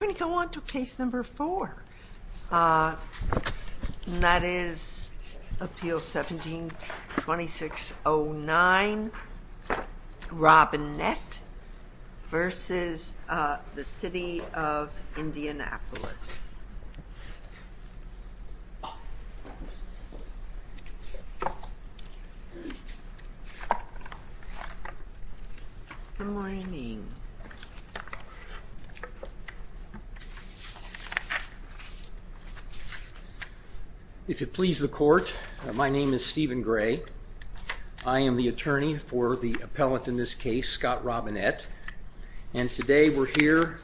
We're going to go on to case number four, and that is Appeal 17-2609, Robinett v. City of Indianapolis. Good morning. If it pleases the court, my name is Stephen Gray. I am the attorney for the appellant in this case, Scott Robinett, and today we're here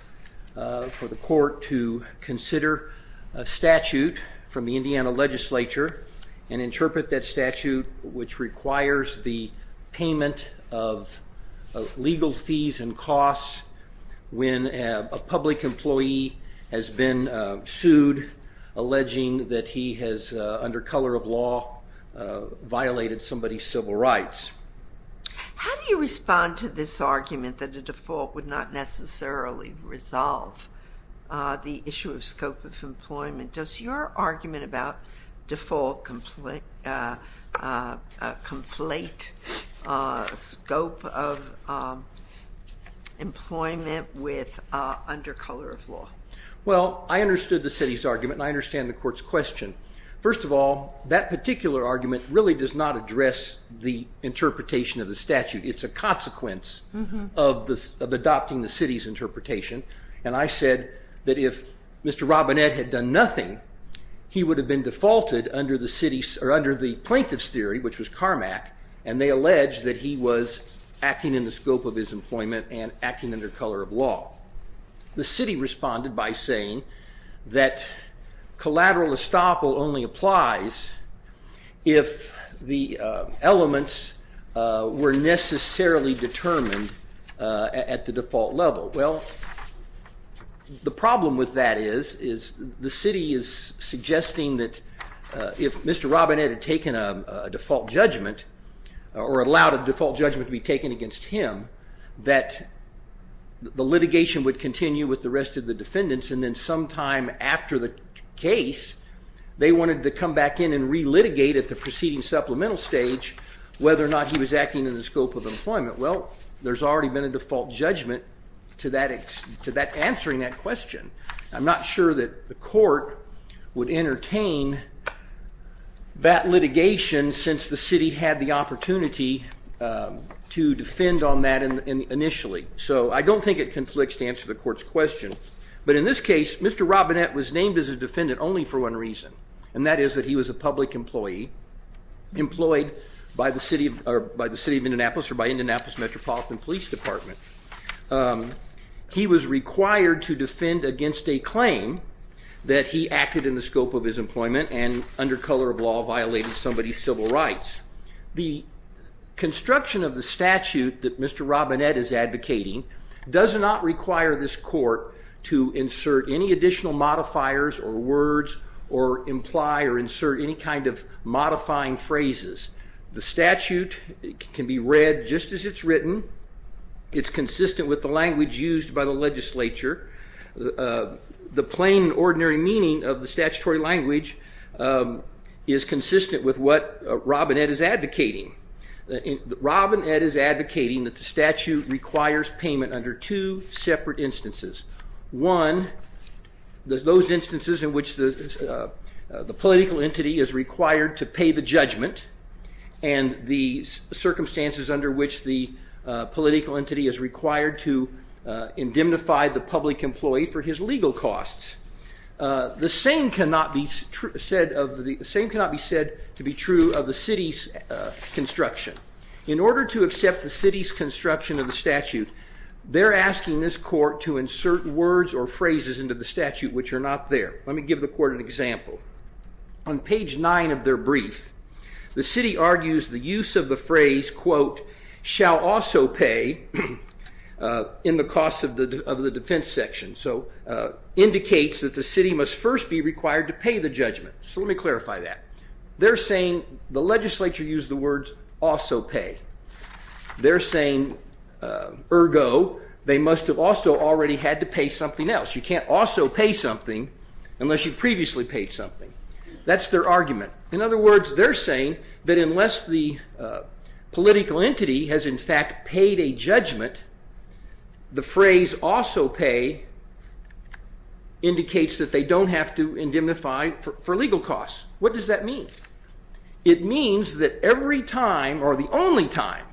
for the court to consider a statute from the Indiana legislature and interpret that statute, which requires the payment of legal fees and costs when a public employee has been sued alleging that he has, under color of law, violated somebody's civil rights. How do you respond to this argument that a default would not necessarily resolve the issue of scope of employment? Does your argument about default conflate scope of employment with under color of law? Well, I understood the city's argument and I understand the court's question. First of all, that particular argument really does not address the interpretation of the statute. It's a consequence of adopting the city's interpretation, and I said that if Mr. Robinett had done nothing, he would have been defaulted under the plaintiff's theory, which was Carmack, and they alleged that he was acting in the scope of his employment and acting under color of law. The city responded by saying that collateral estoppel only applies if the elements were necessarily determined at the default level. Well, the problem with that is the city is suggesting that if Mr. Robinett had taken a default judgment, or allowed a default judgment to be taken against him, that the litigation would continue with the rest of the defendants and then sometime after the case, they wanted to come back in and re-litigate at the preceding supplemental stage whether or not he was acting in the scope of employment. Well, there's already been a default judgment to answering that question. I'm not sure that the court would entertain that litigation since the city had the opportunity to defend on that initially, so I don't think it conflicts to answer the court's question, but in this case, Mr. Robinett was named as a defendant only for one reason, and that is that he was a public employee employed by the city of Indianapolis or by Indianapolis Metropolitan Police Department. He was required to defend against a claim that he acted in the scope of his employment and under color of law violated somebody's civil rights. The construction of the statute that Mr. Robinett is advocating does not require this court to insert any additional modifiers or words or imply or insert any kind of modifying phrases. The statute can be read just as it's written. It's consistent with the language used by the legislature. The plain ordinary meaning of the statutory language is consistent with what Robinett is advocating. Robinett is advocating that the statute requires payment under two separate instances. One, those instances in which the political entity is required to pay the judgment, and the circumstances under which the political entity is required to indemnify the public employee for his legal costs. The same cannot be said to be true of the city's construction. In order to accept the city's construction of the statute, they're asking this court to insert words or phrases into the statute which are not there. Let me give the court an example. On page nine of their brief, the city argues the use of the phrase, quote, shall also pay in the cost of the defense section. So indicates that the city must first be required to pay the judgment. So let me clarify that. They're saying the legislature used the words also pay. They're saying ergo, they must have also already had to pay something else. You can't also pay something unless you previously paid something. That's their argument. In other words, they're saying that unless the political entity has in fact paid a judgment, the phrase also pay indicates that they don't have to indemnify for legal costs. What does that mean? It means that every time or the only time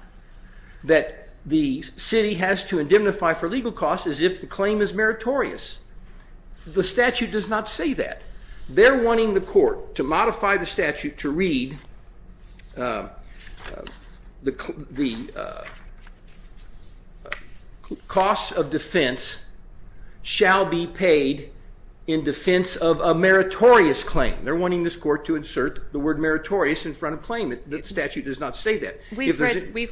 that the city has to indemnify for legal costs is if the claim is meritorious. The statute does not say that. They're wanting the court to modify the statute to read the costs of defense shall be paid in defense of a meritorious claim. They're wanting this court to insert the word meritorious in front of claim. The statute does not say that. We've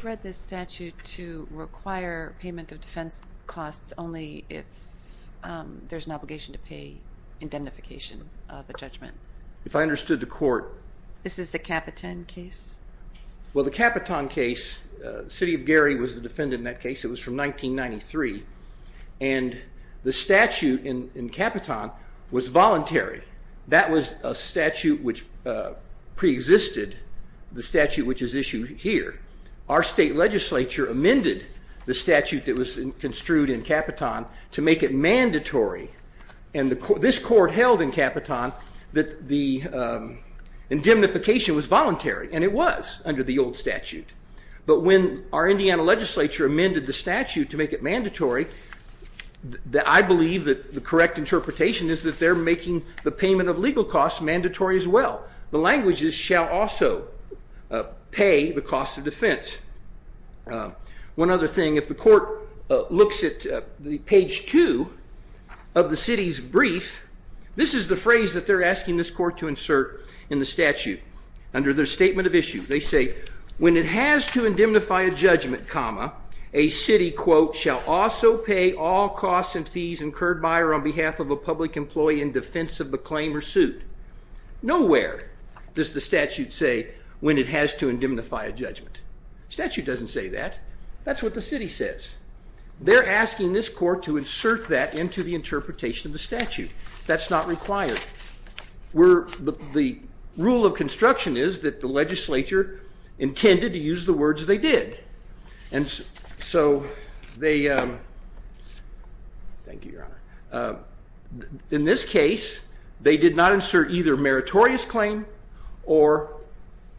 read this statute to require payment of defense costs only if there's an obligation to pay indemnification of a judgment. If I understood the court. This is the Capitan case. Well, the Capitan case, the city of Gary was the defendant in that case. It was from 1993. And the statute in Capitan was voluntary. That was a statute which preexisted the statute which is issued here. Our state legislature amended the statute that was construed in Capitan to make it mandatory. And this court held in Capitan that the indemnification was voluntary. And it was under the old statute. But when our Indiana legislature amended the statute to make it mandatory, I believe that the correct interpretation is that they're making the payment of legal costs mandatory as well. The languages shall also pay the cost of defense. One other thing, if the court looks at the page two of the city's brief, this is the phrase that they're asking this court to insert in the statute. Under their statement of issue, they say, when it has to indemnify a judgment, comma, a city, quote, shall also pay all costs and fees incurred by or on behalf of a public employee in defense of the claim or suit. Nowhere does the statute say when it has to indemnify a judgment. Statute doesn't say that. That's what the city says. They're asking this court to insert that into the interpretation of the statute. That's not required. The rule of construction is that the legislature intended to use the words they did. Thank you, Your Honor. In this case, they did not insert either meritorious claim or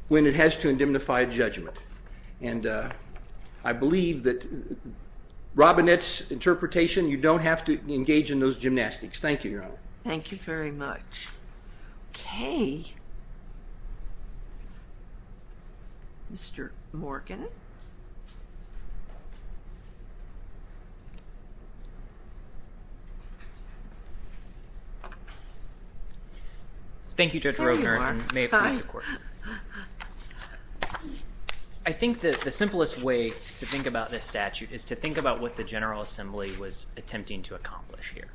when it has to indemnify a judgment. And I believe that Robinette's interpretation, you don't have to engage in those gymnastics. Thank you, Your Honor. Thank you very much. Okay. Mr. Morgan. Thank you, Judge Rogner, and may it please the court. I think that the simplest way to think about this statute is to think about what the General Assembly was attempting to accomplish here.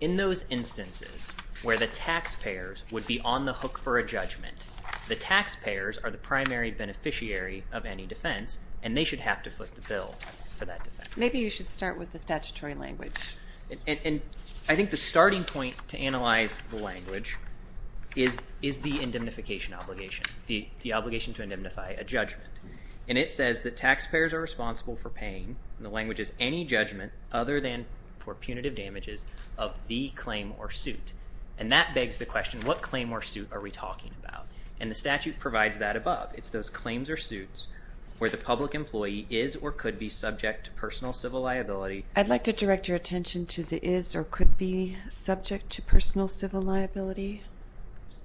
In those instances where the taxpayers would be on the hook for a judgment, the taxpayers are the primary beneficiary of any defense, and they should have to foot the bill for that defense. Maybe you should start with the statutory language. And I think the starting point to analyze the language is the indemnification obligation, the obligation to indemnify a judgment. And it says that taxpayers are responsible for paying, and the language is any judgment other than for punitive damages, of the claim or suit. And that begs the question, what claim or suit are we talking about? And the statute provides that above. It's those claims or suits where the public employee is or could be subject to personal civil liability. I'd like to direct your attention to the is or could be subject to personal civil liability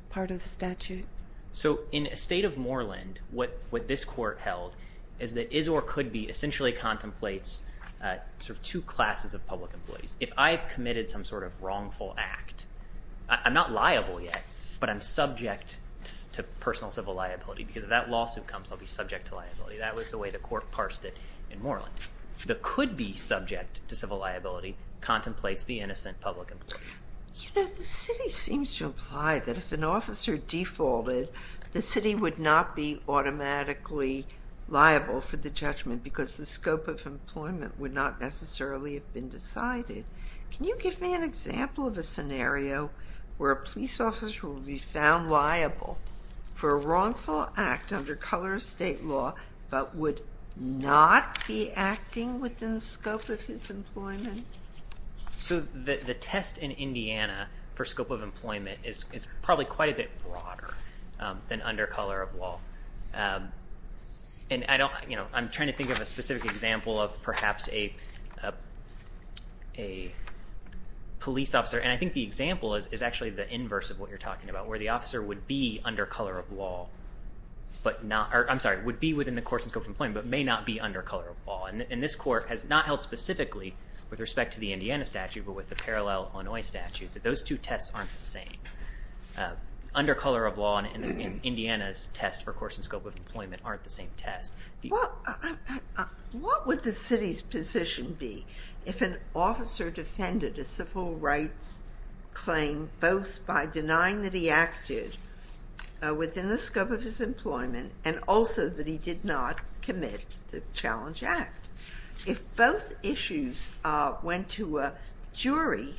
part of the statute. So in a state of Moreland, what this court held is that is or could be essentially contemplates two classes of public employees. If I've committed some sort of wrongful act, I'm not liable yet, but I'm subject to personal civil liability, because if that lawsuit comes, I'll be subject to liability. That was the way the court parsed it in Moreland. The could be subject to civil liability contemplates the innocent public employee. You know, the city seems to imply that if an officer defaulted, the city would not be automatically liable for the judgment, because the scope of employment would not necessarily have been decided. Can you give me an example of a scenario where a police officer will be found liable for a wrongful act under color of state law, but would not be acting within the scope of his employment? So the test in Indiana for scope of employment is probably quite a bit broader than under color of law. And I don't, you know, I'm trying to think of a specific example of perhaps a police officer, and I think the example is actually the inverse of what you're talking about, where the officer would be under color of law, but not, or I'm sorry, would be within the course and scope of employment, but may not be under color of law. And this court has not held specifically with respect to the Indiana statute, but with the parallel Illinois statute, that those two tests aren't the same. Under color of law in Indiana's test for course and scope of employment aren't the same test. Well, what would the city's position be if an officer defended a civil rights claim both by denying that he acted within the scope of his employment, and also that he did not commit the challenge act? If both issues went to a jury,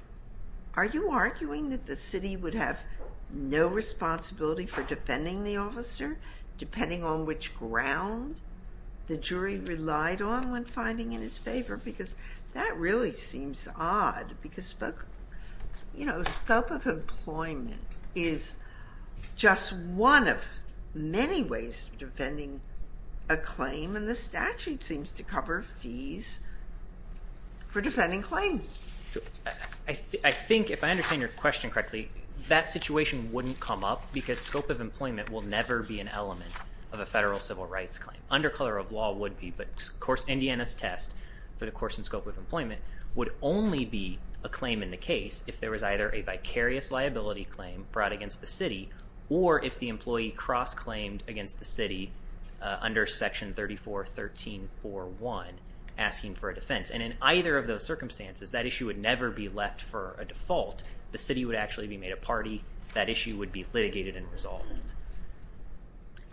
are you arguing that the city would have no responsibility for defending the officer, depending on which ground the jury relied on when finding in his favor? Because that really seems odd, because, you know, scope of employment is just one of many ways of defending a claim, and the statute seems to cover fees for defending claims. I think, if I understand your question correctly, that situation wouldn't come up, because scope of employment will never be an element of a federal civil rights claim. Under color of law would be, but Indiana's test for the course and scope of employment would only be a claim in the case if there was either a vicarious liability claim brought against the city, or if the employee cross-claimed against the city under section 34.13.4.1, asking for a defense. And in either of those circumstances, that issue would never be left for a default. The city would actually be made a party.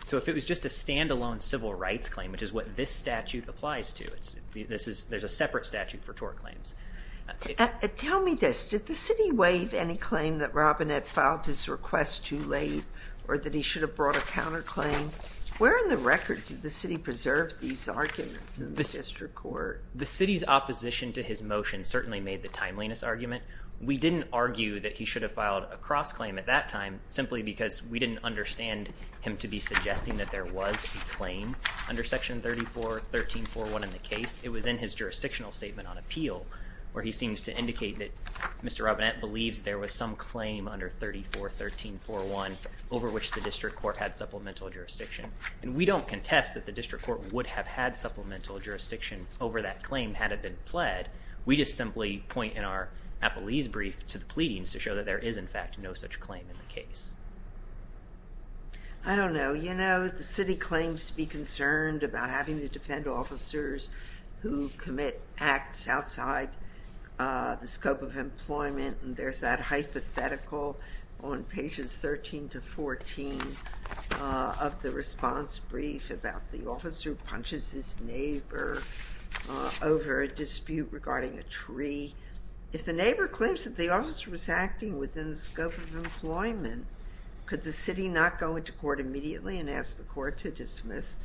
So if it was just a standalone civil rights claim, which is what this statute applies to, there's a separate statute for tort claims. Tell me this. Did the city waive any claim that Robin had filed his request too late, or that he should have brought a counterclaim? Where in the record did the city preserve these arguments in the district court? The city's opposition to his motion certainly made the timeliness argument. We didn't argue that he should have filed a cross-claim at that time simply because we didn't understand him to be suggesting that there was a claim under section 34.13.4.1 in the case. It was in his jurisdictional statement on appeal where he seems to indicate that Mr. Robinette believes there was some claim under 34.13.4.1 over which the district court had supplemental jurisdiction. And we don't contest that the district court would have had supplemental jurisdiction over that claim had it been pled. We just simply point in our appellee's brief to the pleadings to show that there is, in fact, no such claim in the case. I don't know. You know, the city claims to be concerned about having to defend officers who commit acts outside the scope of employment. And there's that hypothetical on pages 13 to 14 of the response brief about the officer who punches his neighbor over a dispute regarding a tree. If the neighbor claims that the officer was acting within the scope of employment, could the city not go into court immediately and ask the court to dismiss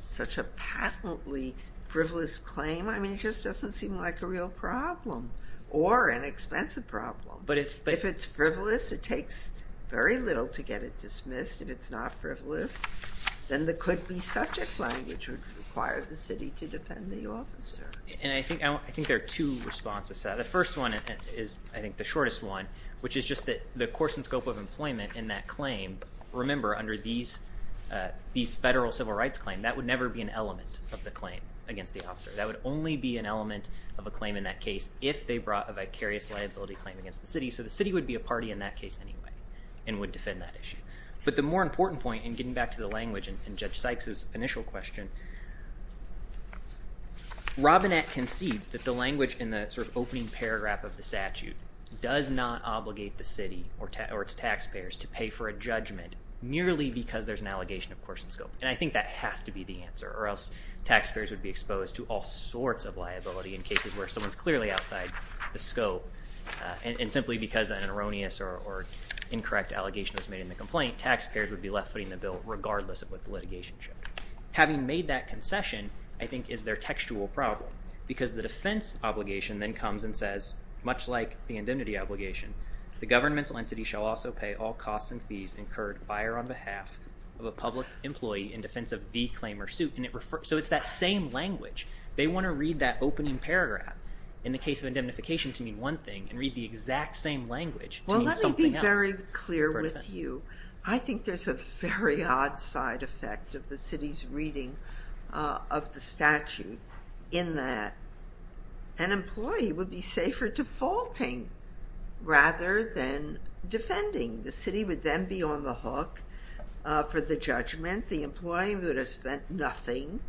such a patently frivolous claim? I mean, it just doesn't seem like a real problem or an expensive problem. If it's frivolous, it takes very little to get it dismissed. If it's not frivolous, then there could be subject language that would require the city to defend the officer. And I think there are two responses to that. The first one is, I think, the shortest one, which is just that the course and scope of employment in that claim, remember, under these federal civil rights claims, that would never be an element of the claim against the officer. That would only be an element of a claim in that case if they brought a vicarious liability claim against the city. So the city would be a party in that case anyway and would defend that issue. But the more important point, and getting back to the language in Judge Sykes' initial question, Robinette concedes that the language in the sort of opening paragraph of the statute does not obligate the city or its taxpayers to pay for a judgment merely because there's an allegation of course and scope. And I think that has to be the answer or else taxpayers would be exposed to all sorts of liability in cases where someone's clearly outside the scope. And simply because an erroneous or incorrect allegation was made in the complaint, taxpayers would be left footing the bill regardless of what the litigation showed. Having made that concession, I think, is their textual problem because the defense obligation then comes and says, much like the indemnity obligation, the governmental entity shall also pay all costs and fees incurred by or on behalf of a public employee in defense of the claim or suit. So it's that same language. They want to read that opening paragraph in the case of indemnification to mean one thing and read the exact same language to mean something else. I'm very clear with you. I think there's a very odd side effect of the city's reading of the statute in that an employee would be safer defaulting rather than defending. The city would then be on the hook for the judgment. The employee would have spent nothing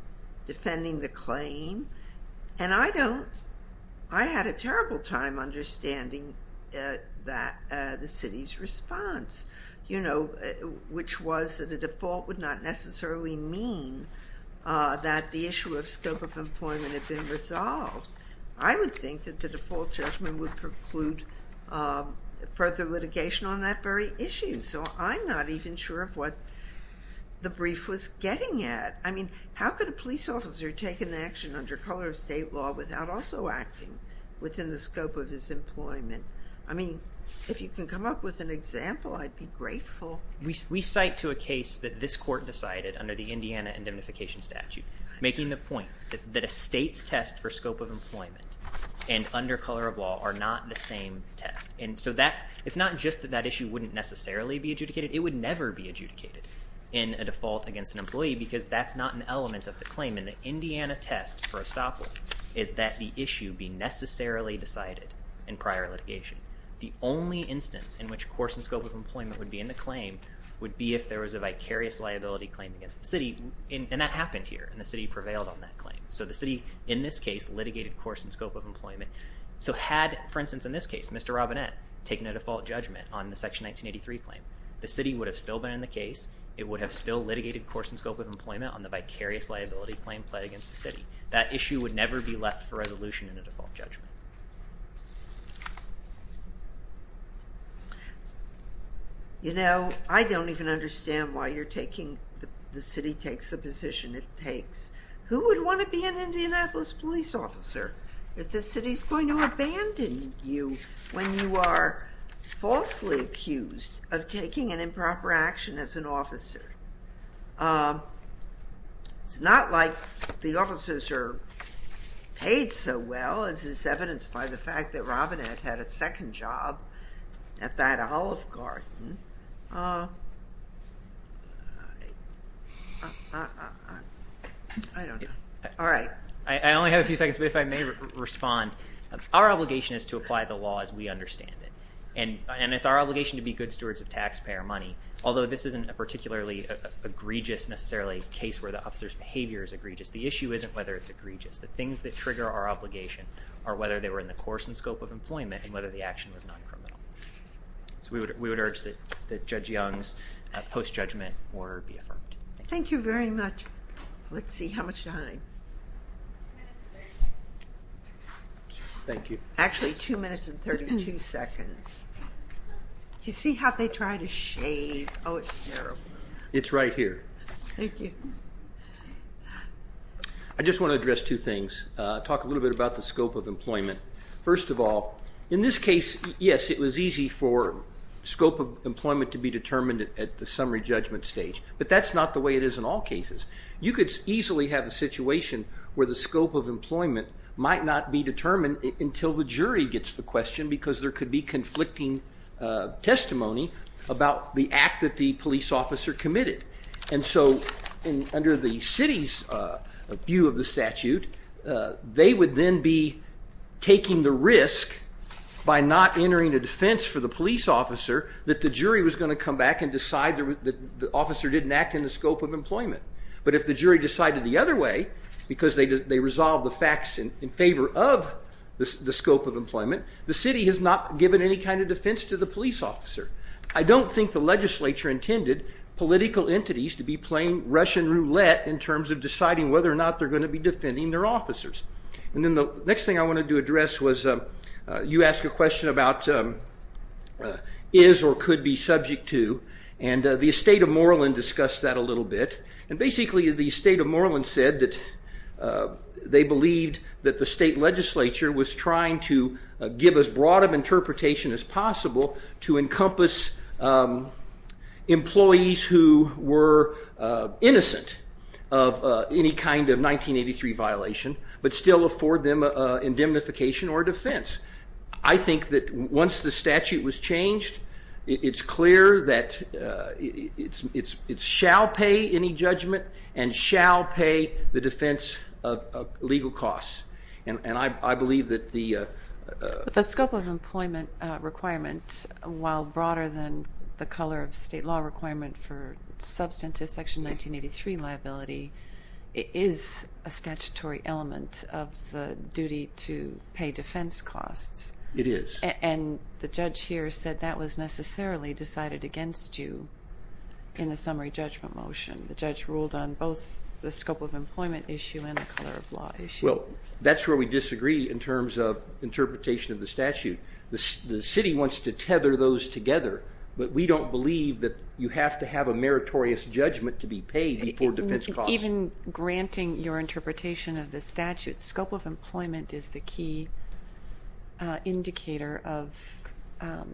defending the claim. And I don't, I had a terrible time understanding that, the city's response, you know, which was that a default would not necessarily mean that the issue of scope of employment had been resolved. I would think that the default judgment would preclude further litigation on that very issue. So I'm not even sure of what the brief was getting at. I mean, how could a police officer take an action under color of state law without also acting within the scope of his employment? I mean, if you can come up with an example, I'd be grateful. We cite to a case that this court decided under the Indiana indemnification statute, making the point that a state's test for scope of employment and under color of law are not the same test. And so that, it's not just that that issue wouldn't necessarily be adjudicated. It would never be adjudicated in a default against an employee because that's not an element of the claim. And the Indiana test for estoppel is that the issue be necessarily decided in prior litigation. The only instance in which course and scope of employment would be in the claim would be if there was a vicarious liability claim against the city. And that happened here. And the city prevailed on that claim. So the city, in this case, litigated course and scope of employment. So had, for instance, in this case, Mr. Robinette taking a default judgment on the Section 1983 claim, the city would have still been in the case. It would have still litigated course and scope of employment on the vicarious liability claim played against the city. That issue would never be left for resolution in a default judgment. You know, I don't even understand why you're taking the city takes the position it takes. Who would want to be an Indianapolis police officer if the city's going to abandon you when you are falsely accused of taking an improper action as an officer? It's not like the officers are paid so well as is evidenced by the fact that Robinette had a second job at that Olive Garden. I don't know. All right. I only have a few seconds, but if I may respond. Our obligation is to apply the law as we understand it. And it's our obligation to be good stewards of taxpayer money, although this isn't a particularly egregious necessarily case where the officer's behavior is egregious. The issue isn't whether it's egregious. The things that trigger our obligation are whether they were in the course and scope of employment and whether the action was non-criminal. So we would urge that Judge Young's post-judgment order be affirmed. Thank you very much. Let's see how much time. Thank you. Actually, two minutes and 32 seconds. Do you see how they try to shave? Oh, it's terrible. It's right here. Thank you. I just want to address two things. Talk a little bit about the scope of employment. First of all, in this case, yes, it was easy for scope of employment to be determined at the summary judgment stage. But that's not the way it is in all cases. You could easily have a situation where the scope of employment might not be determined until the jury gets the question because there could be conflicting testimony about the act that the police officer committed. And so under the city's view of the statute, they would then be taking the risk by not entering a defense for the police officer that the jury was going to come back and decide that the officer didn't act in the scope of employment. But if the jury decided the other way because they resolved the facts in favor of the scope of employment, the city has not given any kind of defense to the police officer. I don't think the legislature intended political entities to be playing Russian roulette in terms of deciding whether or not they're going to be defending their officers. And then the next thing I wanted to address was you asked a question about is or could be subject to, and the state of Moreland discussed that a little bit. And basically the state of Moreland said that they believed that the state legislature was trying to give as broad of interpretation as possible to encompass employees who were innocent of any kind of 1983 violation but still afford them indemnification or defense. I think that once the statute was changed, it's clear that it shall pay any judgment and shall pay the defense of legal costs. The scope of employment requirement, while broader than the color of state law requirement for substantive Section 1983 liability, is a statutory element of the duty to pay defense costs. It is. And the judge here said that was necessarily decided against you in the summary judgment motion. The judge ruled on both the scope of employment issue and the color of law issue. Well, that's where we disagree in terms of interpretation of the statute. The city wants to tether those together, but we don't believe that you have to have a meritorious judgment to be paid for defense costs. Even granting your interpretation of the statute, scope of employment is the key indicator of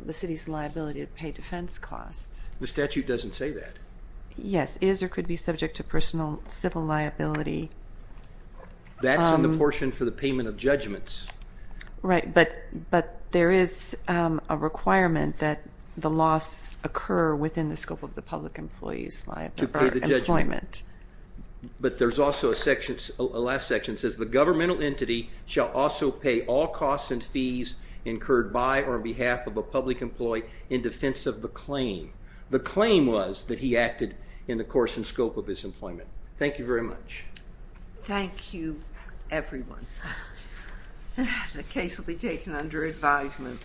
the city's liability to pay defense costs. The statute doesn't say that. Yes, is or could be subject to personal civil liability. That's in the portion for the payment of judgments. Right, but there is a requirement that the loss occur within the scope of the public employee's employment. But there's also a last section that says the governmental entity shall also pay all costs and fees incurred by or on behalf of a public employee in defense of the claim. The claim was that he acted in the course and scope of his employment. Thank you very much. Thank you, everyone. The case will be taken under advisement.